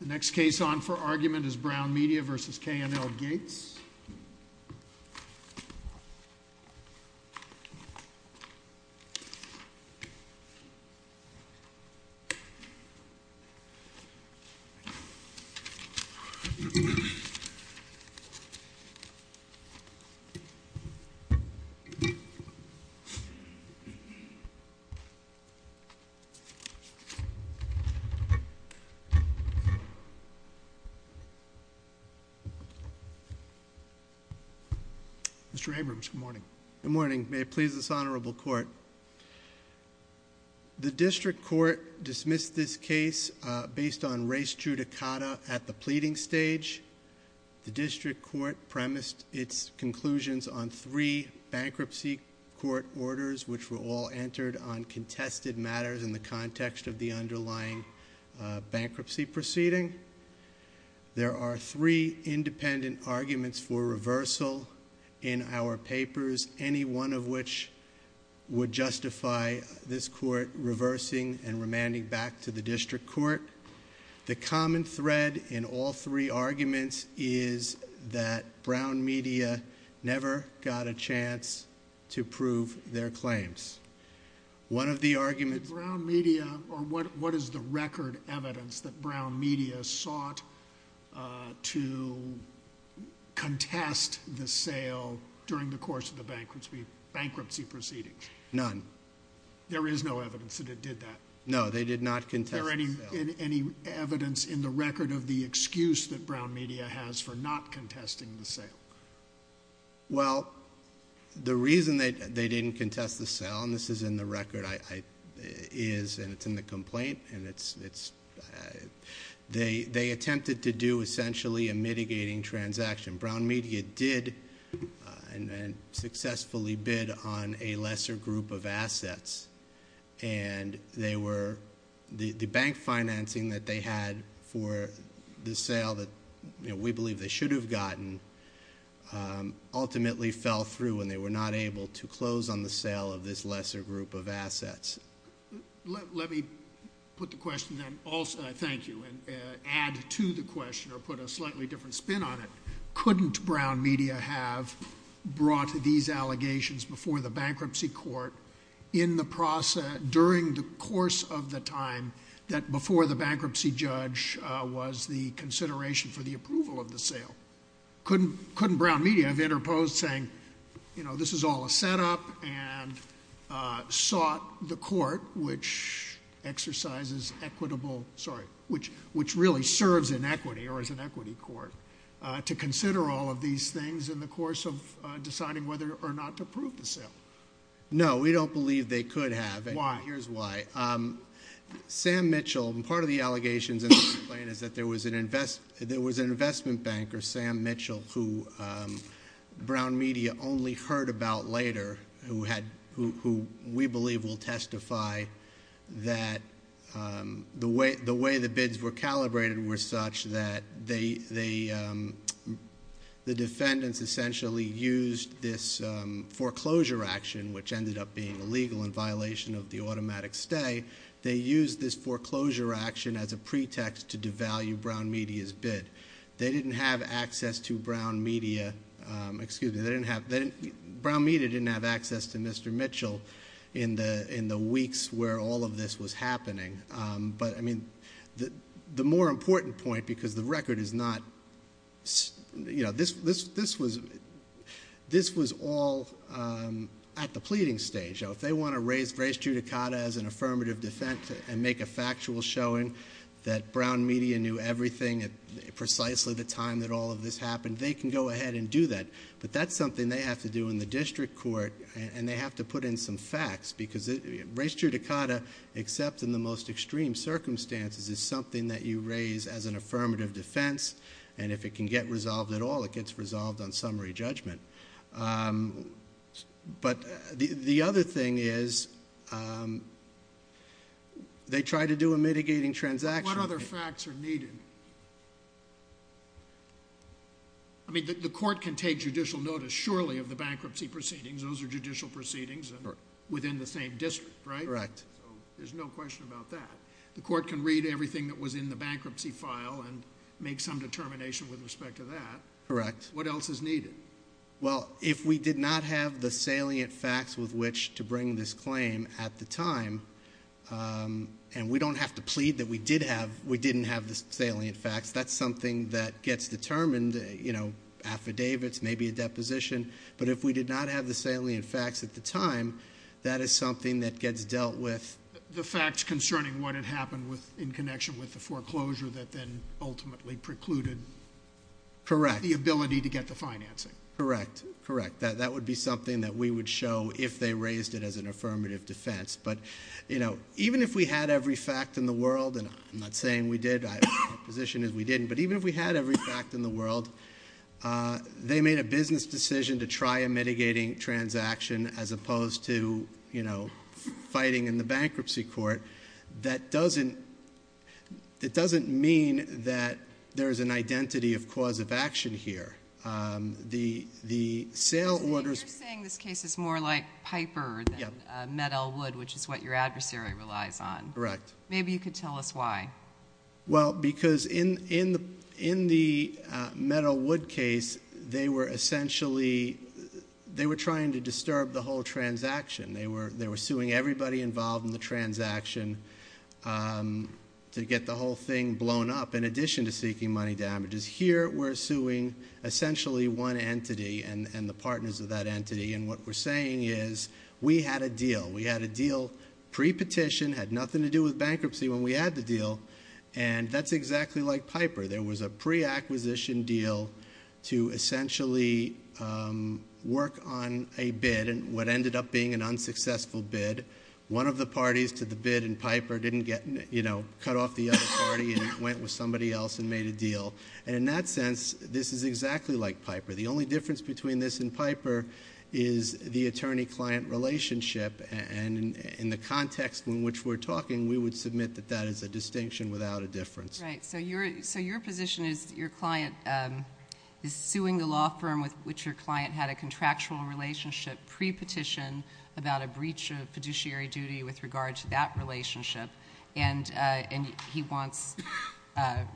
The next case on for argument is Brown Media v. K&L Gates. Mr. Abrams, good morning. Good morning. May it please this honorable court. The district court dismissed this case based on race judicata at the pleading stage. The district court premised its conclusions on three bankruptcy court orders which were all entered on contested matters in the context of the underlying bankruptcy proceeding. There are three independent arguments for reversal in our papers, any one of which would justify this court reversing and remanding back to the district court. The common thread in all three arguments is that Brown Media never got a chance to prove their claims. What is the record evidence that Brown Media sought to contest the sale during the course of the bankruptcy proceedings? None. There is no evidence that it did that. No, they did not contest the sale. Is there any evidence in the record of the excuse that Brown Media has for not contesting the sale? Well, the reason that they didn't contest the sale, and this is in the record, and it's in the complaint, they attempted to do essentially a mitigating transaction. Brown Media did and successfully bid on a lesser group of assets, and the bank financing that they had for the sale that we believe they should have gotten ultimately fell through, and they were not able to close on the sale of this lesser group of assets. Let me put the question then, thank you, and add to the question or put a slightly different spin on it. Couldn't Brown Media have brought these allegations before the bankruptcy court during the course of the time that before the bankruptcy judge was the consideration for the approval of the sale? Couldn't Brown Media have interposed saying this is all a set up and sought the court which exercises equitable, sorry, which really serves in equity or is an equity court to consider all of these things in the course of deciding whether or not to approve the sale? No, we don't believe they could have. Why? Here's why. Sam Mitchell, and part of the allegations in the complaint is that there was an investment banker, Sam Mitchell, who Brown Media only heard about later who we believe will testify that the way the bids were calibrated were such that the defendants essentially used this foreclosure action, which ended up being illegal in violation of the automatic stay. They used this foreclosure action as a pretext to devalue Brown Media's bid. They didn't have access to Brown Media, excuse me, they didn't have, Brown Media didn't have access to Mr. Mitchell in the weeks where all of this was happening. The more important point, because the record is not, this was all at the pleading stage. If they want to raise Trudicata as an affirmative defense and make a factual showing that Brown Media knew everything at precisely the time that all of this happened, they can go ahead and do that. But that's something they have to do in the district court, and they have to put in some facts. Because raise Trudicata, except in the most extreme circumstances, is something that you raise as an affirmative defense, and if it can get resolved at all, it gets resolved on summary judgment. But the other thing is, they try to do a mitigating transaction. What other facts are needed? I mean, the court can take judicial notice, surely, of the bankruptcy proceedings. Those are judicial proceedings within the same district, right? Correct. So there's no question about that. The court can read everything that was in the bankruptcy file and make some determination with respect to that. Correct. What else is needed? Well, if we did not have the salient facts with which to bring this claim at the time, and we don't have to plead that we didn't have the salient facts. That's something that gets determined, affidavits, maybe a deposition. But if we did not have the salient facts at the time, that is something that gets dealt with. The facts concerning what had happened in connection with the foreclosure that then ultimately precluded the ability to get the financing. Correct. That would be something that we would show if they raised it as an affirmative defense. But even if we had every fact in the world, and I'm not saying we did. My position is we didn't. But even if we had every fact in the world, they made a business decision to try a mitigating transaction as opposed to fighting in the bankruptcy court. That doesn't mean that there's an identity of cause of action here. The sale orders- You're saying this case is more like Piper than Med-El Wood, which is what your adversary relies on. Correct. Maybe you could tell us why. Well, because in the Med-El Wood case, they were essentially trying to disturb the whole transaction. They were suing everybody involved in the transaction to get the whole thing blown up, in addition to seeking money damages. Here, we're suing essentially one entity and the partners of that entity, and what we're saying is we had a deal. Pre-petition, had nothing to do with bankruptcy when we had the deal, and that's exactly like Piper. There was a pre-acquisition deal to essentially work on a bid, and what ended up being an unsuccessful bid. One of the parties to the bid in Piper cut off the other party and went with somebody else and made a deal. In that sense, this is exactly like Piper. The only difference between this and Piper is the attorney-client relationship, and in the context in which we're talking, we would submit that that is a distinction without a difference. Right. So your position is your client is suing the law firm with which your client had a contractual relationship pre-petition about a breach of fiduciary duty with regard to that relationship, and he wants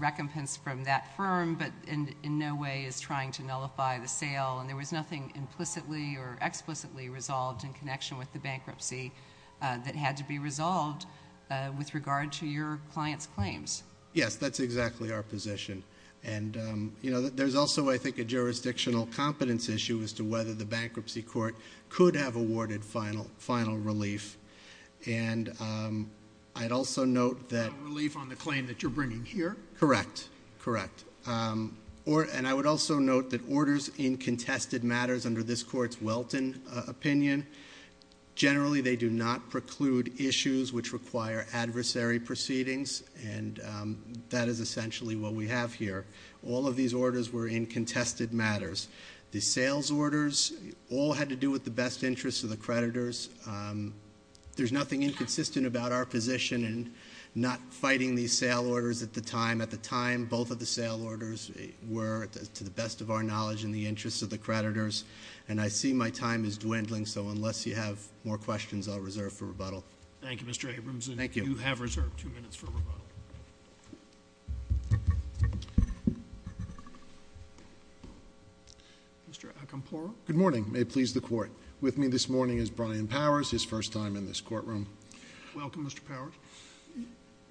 recompense from that firm, but in no way is trying to nullify the sale, and there was nothing implicitly or explicitly resolved in connection with the bankruptcy that had to be resolved with regard to your client's claims. Yes, that's exactly our position. There's also, I think, a jurisdictional competence issue as to whether the bankruptcy court could have awarded final relief, and I'd also note that- Final relief on the claim that you're bringing here? Correct. Correct. And I would also note that orders in contested matters under this court's Welton opinion, generally they do not preclude issues which require adversary proceedings, and that is essentially what we have here. All of these orders were in contested matters. The sales orders all had to do with the best interest of the creditors. There's nothing inconsistent about our position in not fighting these sale orders at the time. At the time, both of the sale orders were, to the best of our knowledge, in the interest of the creditors, and I see my time is dwindling, so unless you have more questions, I'll reserve for rebuttal. Thank you, Mr. Abramson. Thank you. You have reserved two minutes for rebuttal. Mr. Acampora. Good morning. May it please the Court. With me this morning is Brian Powers, his first time in this courtroom. Welcome, Mr. Powers.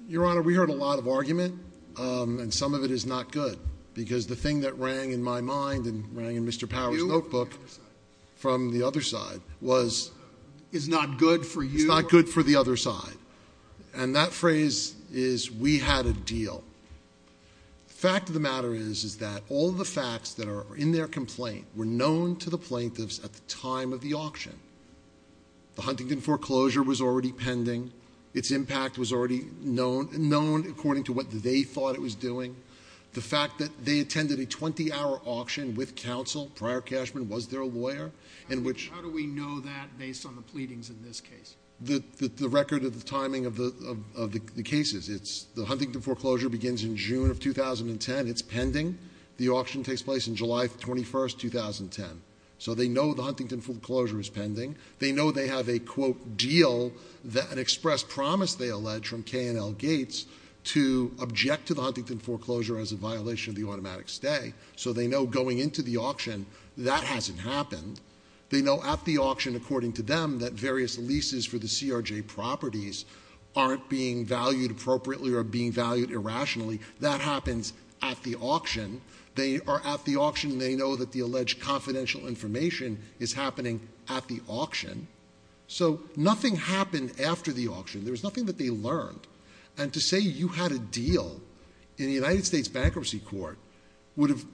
Your Honor, we heard a lot of argument, and some of it is not good, because the thing that rang in my mind and rang in Mr. Powers' notebook from the other side was- Is not good for you. It's not good for the other side. And that phrase is, we had a deal. The fact of the matter is that all the facts that are in their complaint were known to the plaintiffs at the time of the auction. The Huntington foreclosure was already pending. Its impact was already known, according to what they thought it was doing. The fact that they attended a 20-hour auction with counsel, Prior Cashman was their lawyer, in which- How do we know that based on the pleadings in this case? The record of the timing of the cases. The Huntington foreclosure begins in June of 2010. It's pending. The auction takes place on July 21, 2010. So they know the Huntington foreclosure is pending. They know they have a, quote, deal, an express promise, they allege, from K&L Gates to object to the Huntington foreclosure as a violation of the automatic stay. So they know going into the auction, that hasn't happened. They know at the auction, according to them, that various leases for the CRJ properties aren't being valued appropriately or being valued irrationally. That happens at the auction. They are at the auction. They know that the alleged confidential information is happening at the auction. So nothing happened after the auction. There was nothing that they learned. And to say you had a deal in the United States Bankruptcy Court would have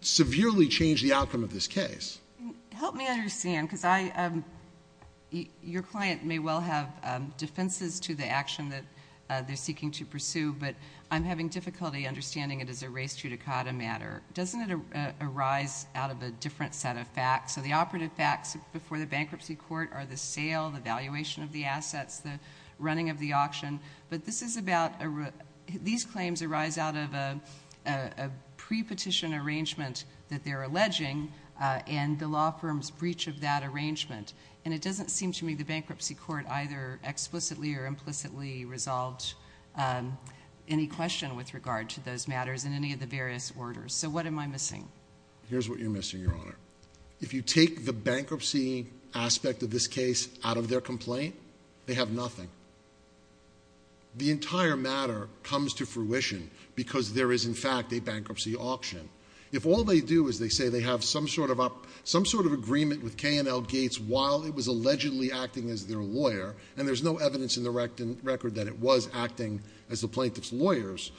severely changed the outcome of this case. Help me understand, because your client may well have defenses to the action that they're seeking to pursue, but I'm having difficulty understanding it as a res judicata matter. Doesn't it arise out of a different set of facts? So the operative facts before the Bankruptcy Court are the sale, the valuation of the assets, the running of the auction. But these claims arise out of a pre-petition arrangement that they're alleging and the law firm's breach of that arrangement. And it doesn't seem to me the Bankruptcy Court either explicitly or implicitly resolved any question with regard to those matters in any of the various orders. So what am I missing? Here's what you're missing, Your Honor. If you take the bankruptcy aspect of this case out of their complaint, they have nothing. The entire matter comes to fruition because there is, in fact, a bankruptcy auction. If all they do is they say they have some sort of agreement with K&L Gates while it was allegedly acting as their lawyer, and there's no evidence in the record that it was acting as the plaintiff's lawyers,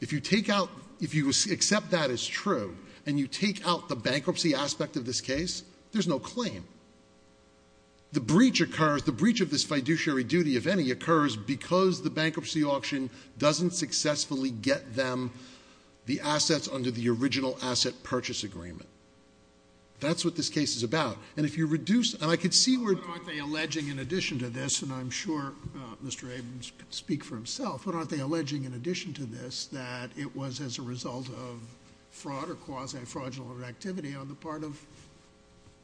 if you take out, if you accept that as true, and you take out the bankruptcy aspect of this case, there's no claim. The breach occurs, the breach of this fiduciary duty, if any, occurs because the bankruptcy auction doesn't successfully get them the assets under the original asset purchase agreement. That's what this case is about. And if you reduce, and I could see where. But aren't they alleging in addition to this, and I'm sure Mr. Abrams can speak for himself, but aren't they alleging in addition to this that it was as a result of fraud or quasi-fraudulent activity on the part of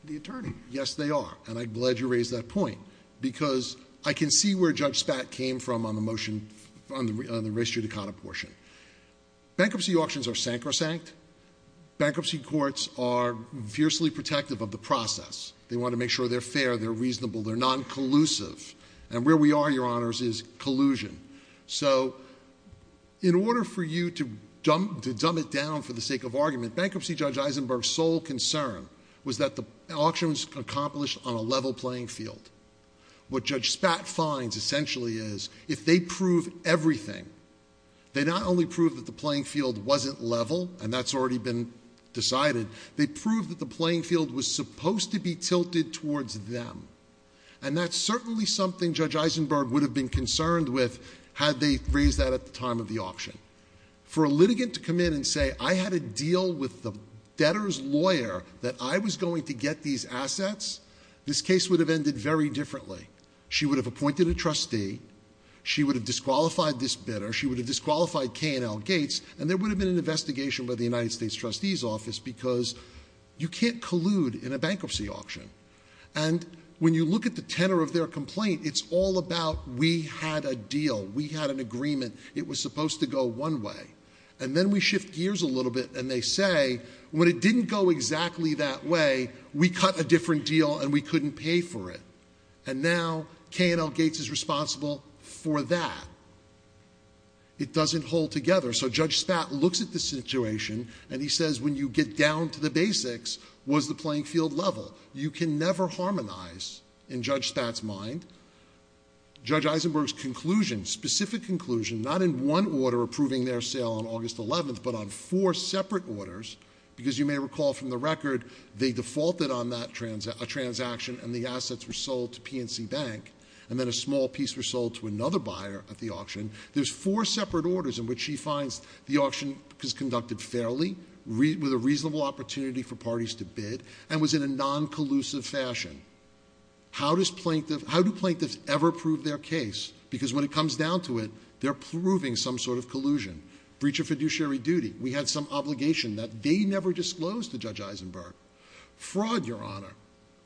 the attorney? Yes, they are, and I'm glad you raised that point because I can see where Judge Spatt came from on the motion on the res judicata portion. Bankruptcy auctions are sacrosanct. Bankruptcy courts are fiercely protective of the process. They want to make sure they're fair, they're reasonable, they're non-collusive. And where we are, Your Honors, is collusion. So in order for you to dumb it down for the sake of argument, Bankruptcy Judge Eisenberg's sole concern was that the auction was accomplished on a level playing field. What Judge Spatt finds essentially is if they prove everything, they not only prove that the playing field wasn't level, and that's already been decided, they prove that the playing field was supposed to be tilted towards them. And that's certainly something Judge Eisenberg would have been concerned with had they raised that at the time of the auction. For a litigant to come in and say I had a deal with the debtor's lawyer that I was going to get these assets, this case would have ended very differently. She would have appointed a trustee. She would have disqualified this bidder. She would have disqualified K&L Gates. And there would have been an investigation by the United States Trustee's Office because you can't collude in a bankruptcy auction. And when you look at the tenor of their complaint, it's all about we had a deal. We had an agreement. It was supposed to go one way. And then we shift gears a little bit and they say when it didn't go exactly that way, we cut a different deal and we couldn't pay for it. And now K&L Gates is responsible for that. It doesn't hold together. So Judge Spatt looks at the situation and he says when you get down to the basics, what's the playing field level? You can never harmonize in Judge Spatt's mind. Judge Eisenberg's conclusion, specific conclusion, not in one order approving their sale on August 11th, but on four separate orders because you may recall from the record they defaulted on that transaction and the assets were sold to PNC Bank and then a small piece was sold to another buyer at the auction. There's four separate orders in which she finds the auction was conducted fairly with a reasonable opportunity for parties to bid and was in a non-collusive fashion. How do plaintiffs ever prove their case? Because when it comes down to it, they're proving some sort of collusion. Breach of fiduciary duty. We had some obligation that they never disclosed to Judge Eisenberg. Fraud, Your Honor.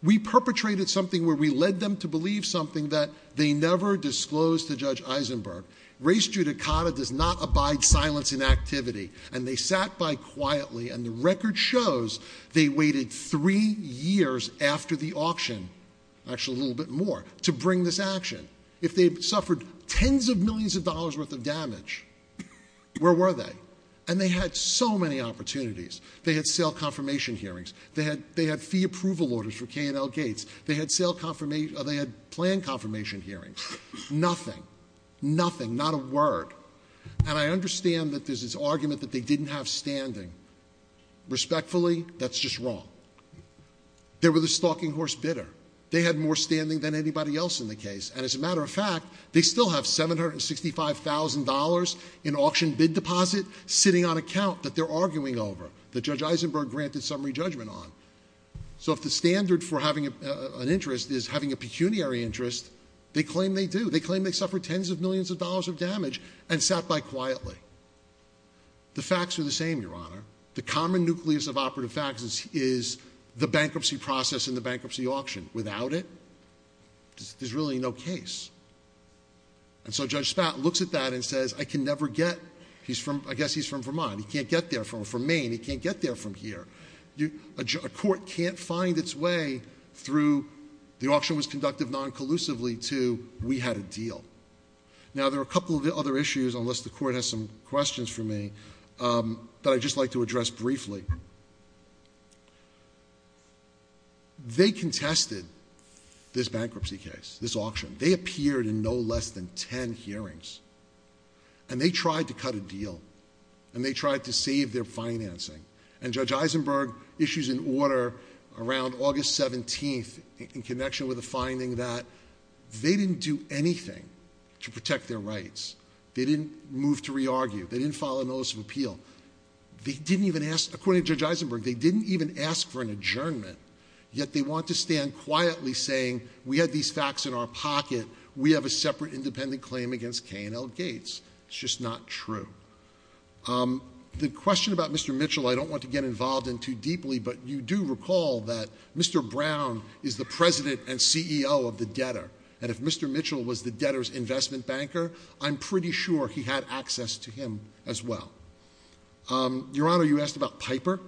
We perpetrated something where we led them to believe something that they never disclosed to Judge Eisenberg. Res judicata does not abide silence in activity. And they sat by quietly and the record shows they waited three years after the auction, actually a little bit more, to bring this action. If they suffered tens of millions of dollars worth of damage, where were they? And they had so many opportunities. They had sale confirmation hearings. They had fee approval orders for K&L Gates. They had plan confirmation hearings. Nothing. Nothing. Not a word. And I understand that there's this argument that they didn't have standing. Respectfully, that's just wrong. They were the stalking horse bidder. They had more standing than anybody else in the case. And as a matter of fact, they still have $765,000 in auction bid deposit sitting on account that they're arguing over. That Judge Eisenberg granted summary judgment on. So if the standard for having an interest is having a pecuniary interest, they claim they do. They claim they suffered tens of millions of dollars of damage and sat by quietly. The facts are the same, Your Honor. The common nucleus of operative facts is the bankruptcy process and the bankruptcy auction. Without it, there's really no case. And so Judge Spatt looks at that and says, I can never get. He's from, I guess he's from Vermont. He can't get there from Maine. He can't get there from here. A court can't find its way through the auction was conducted non-collusively to we had a deal. Now, there are a couple of other issues, unless the court has some questions for me, that I'd just like to address briefly. They contested this bankruptcy case, this auction. They appeared in no less than ten hearings. And they tried to cut a deal. And they tried to save their financing. And Judge Eisenberg issues an order around August 17th in connection with a finding that they didn't do anything to protect their rights. They didn't move to re-argue. They didn't file a notice of appeal. They didn't even ask, according to Judge Eisenberg, they didn't even ask for an adjournment. Yet they want to stand quietly saying, we had these facts in our pocket. We have a separate independent claim against K&L Gates. It's just not true. The question about Mr. Mitchell I don't want to get involved in too deeply. But you do recall that Mr. Brown is the president and CEO of the debtor. And if Mr. Mitchell was the debtor's investment banker, I'm pretty sure he had access to him as well. Your Honor, you asked about Piper.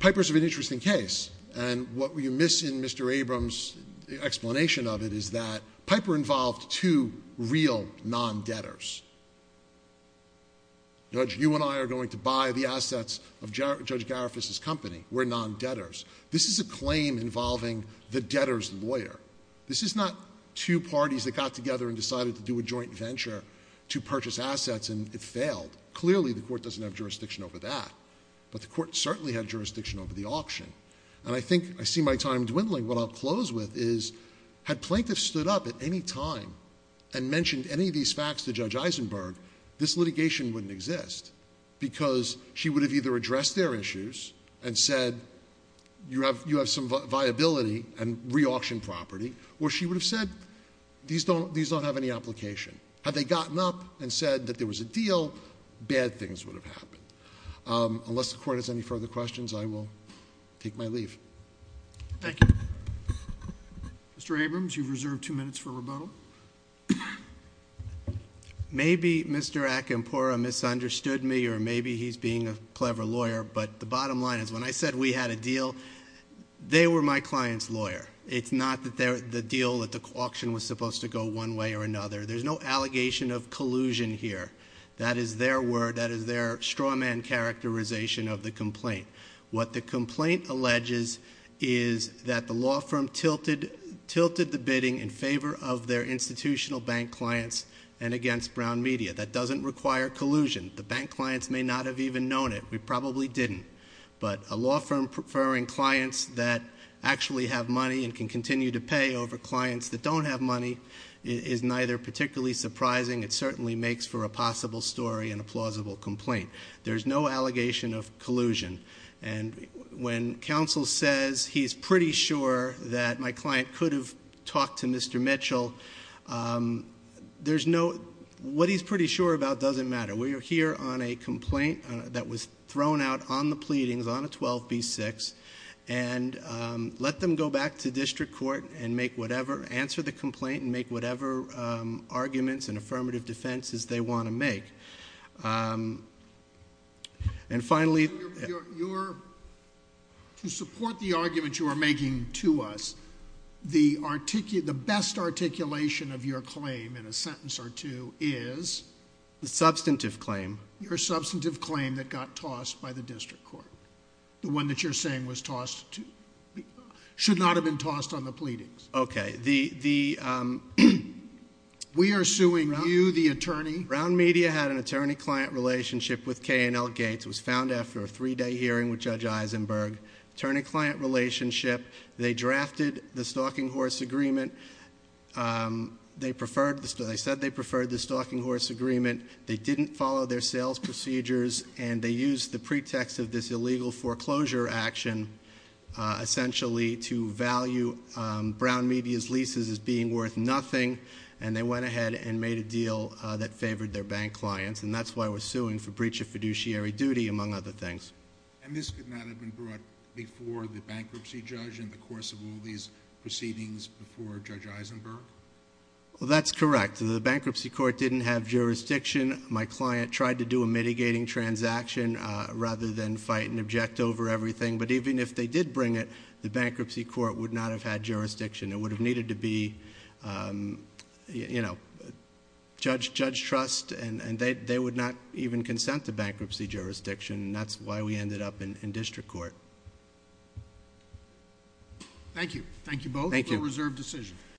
Piper is an interesting case. And what you miss in Mr. Abrams' explanation of it is that Piper involved two real non-debtors. Judge, you and I are going to buy the assets of Judge Garifuss' company. We're non-debtors. This is a claim involving the debtor's lawyer. This is not two parties that got together and decided to do a joint venture to purchase assets and it failed. Clearly the court doesn't have jurisdiction over that. But the court certainly had jurisdiction over the auction. And I think I see my time dwindling. What I'll close with is, had plaintiffs stood up at any time and mentioned any of these facts to Judge Eisenberg, this litigation wouldn't exist. Because she would have either addressed their issues and said, you have some viability and re-auction property. Or she would have said, these don't have any application. Had they gotten up and said that there was a deal, bad things would have happened. Unless the court has any further questions, I will take my leave. Thank you. Mr. Abrams, you've reserved two minutes for rebuttal. Maybe Mr. Akinpura misunderstood me or maybe he's being a clever lawyer. But the bottom line is, when I said we had a deal, they were my client's lawyer. It's not the deal that the auction was supposed to go one way or another. There's no allegation of collusion here. That is their word. That is their straw man characterization of the complaint. What the complaint alleges is that the law firm tilted the bidding in favor of their institutional bank clients and against Brown Media. That doesn't require collusion. The bank clients may not have even known it. We probably didn't. But a law firm preferring clients that actually have money and can continue to pay over clients that don't have money is neither particularly surprising. It certainly makes for a possible story and a plausible complaint. There's no allegation of collusion. And when counsel says he's pretty sure that my client could have talked to Mr. Mitchell, what he's pretty sure about doesn't matter. We are here on a complaint that was thrown out on the pleadings on a 12b-6. And let them go back to district court and make whatever, answer the complaint and make whatever arguments and affirmative defenses they want to make. And finally... To support the argument you are making to us, the best articulation of your claim in a sentence or two is... The substantive claim. Your substantive claim that got tossed by the district court. The one that you're saying was tossed, should not have been tossed on the pleadings. Okay, the... We are suing you, the attorney. Brown Media had an attorney-client relationship with K&L Gates. It was found after a three-day hearing with Judge Eisenberg. Attorney-client relationship. They drafted the Stalking Horse Agreement. They said they preferred the Stalking Horse Agreement. They didn't follow their sales procedures. And they used the pretext of this illegal foreclosure action, essentially, to value Brown Media's leases as being worth nothing. And they went ahead and made a deal that favored their bank clients. And that's why we're suing for breach of fiduciary duty, among other things. And this could not have been brought before the bankruptcy judge in the course of all these proceedings before Judge Eisenberg? Well, that's correct. The bankruptcy court didn't have jurisdiction. My client tried to do a mitigating transaction rather than fight and object over everything. But even if they did bring it, the bankruptcy court would not have had jurisdiction. It would have needed to be, you know, judge trust. And they would not even consent to bankruptcy jurisdiction. And that's why we ended up in district court. Thank you. Thank you both for a reserved decision. Thank you.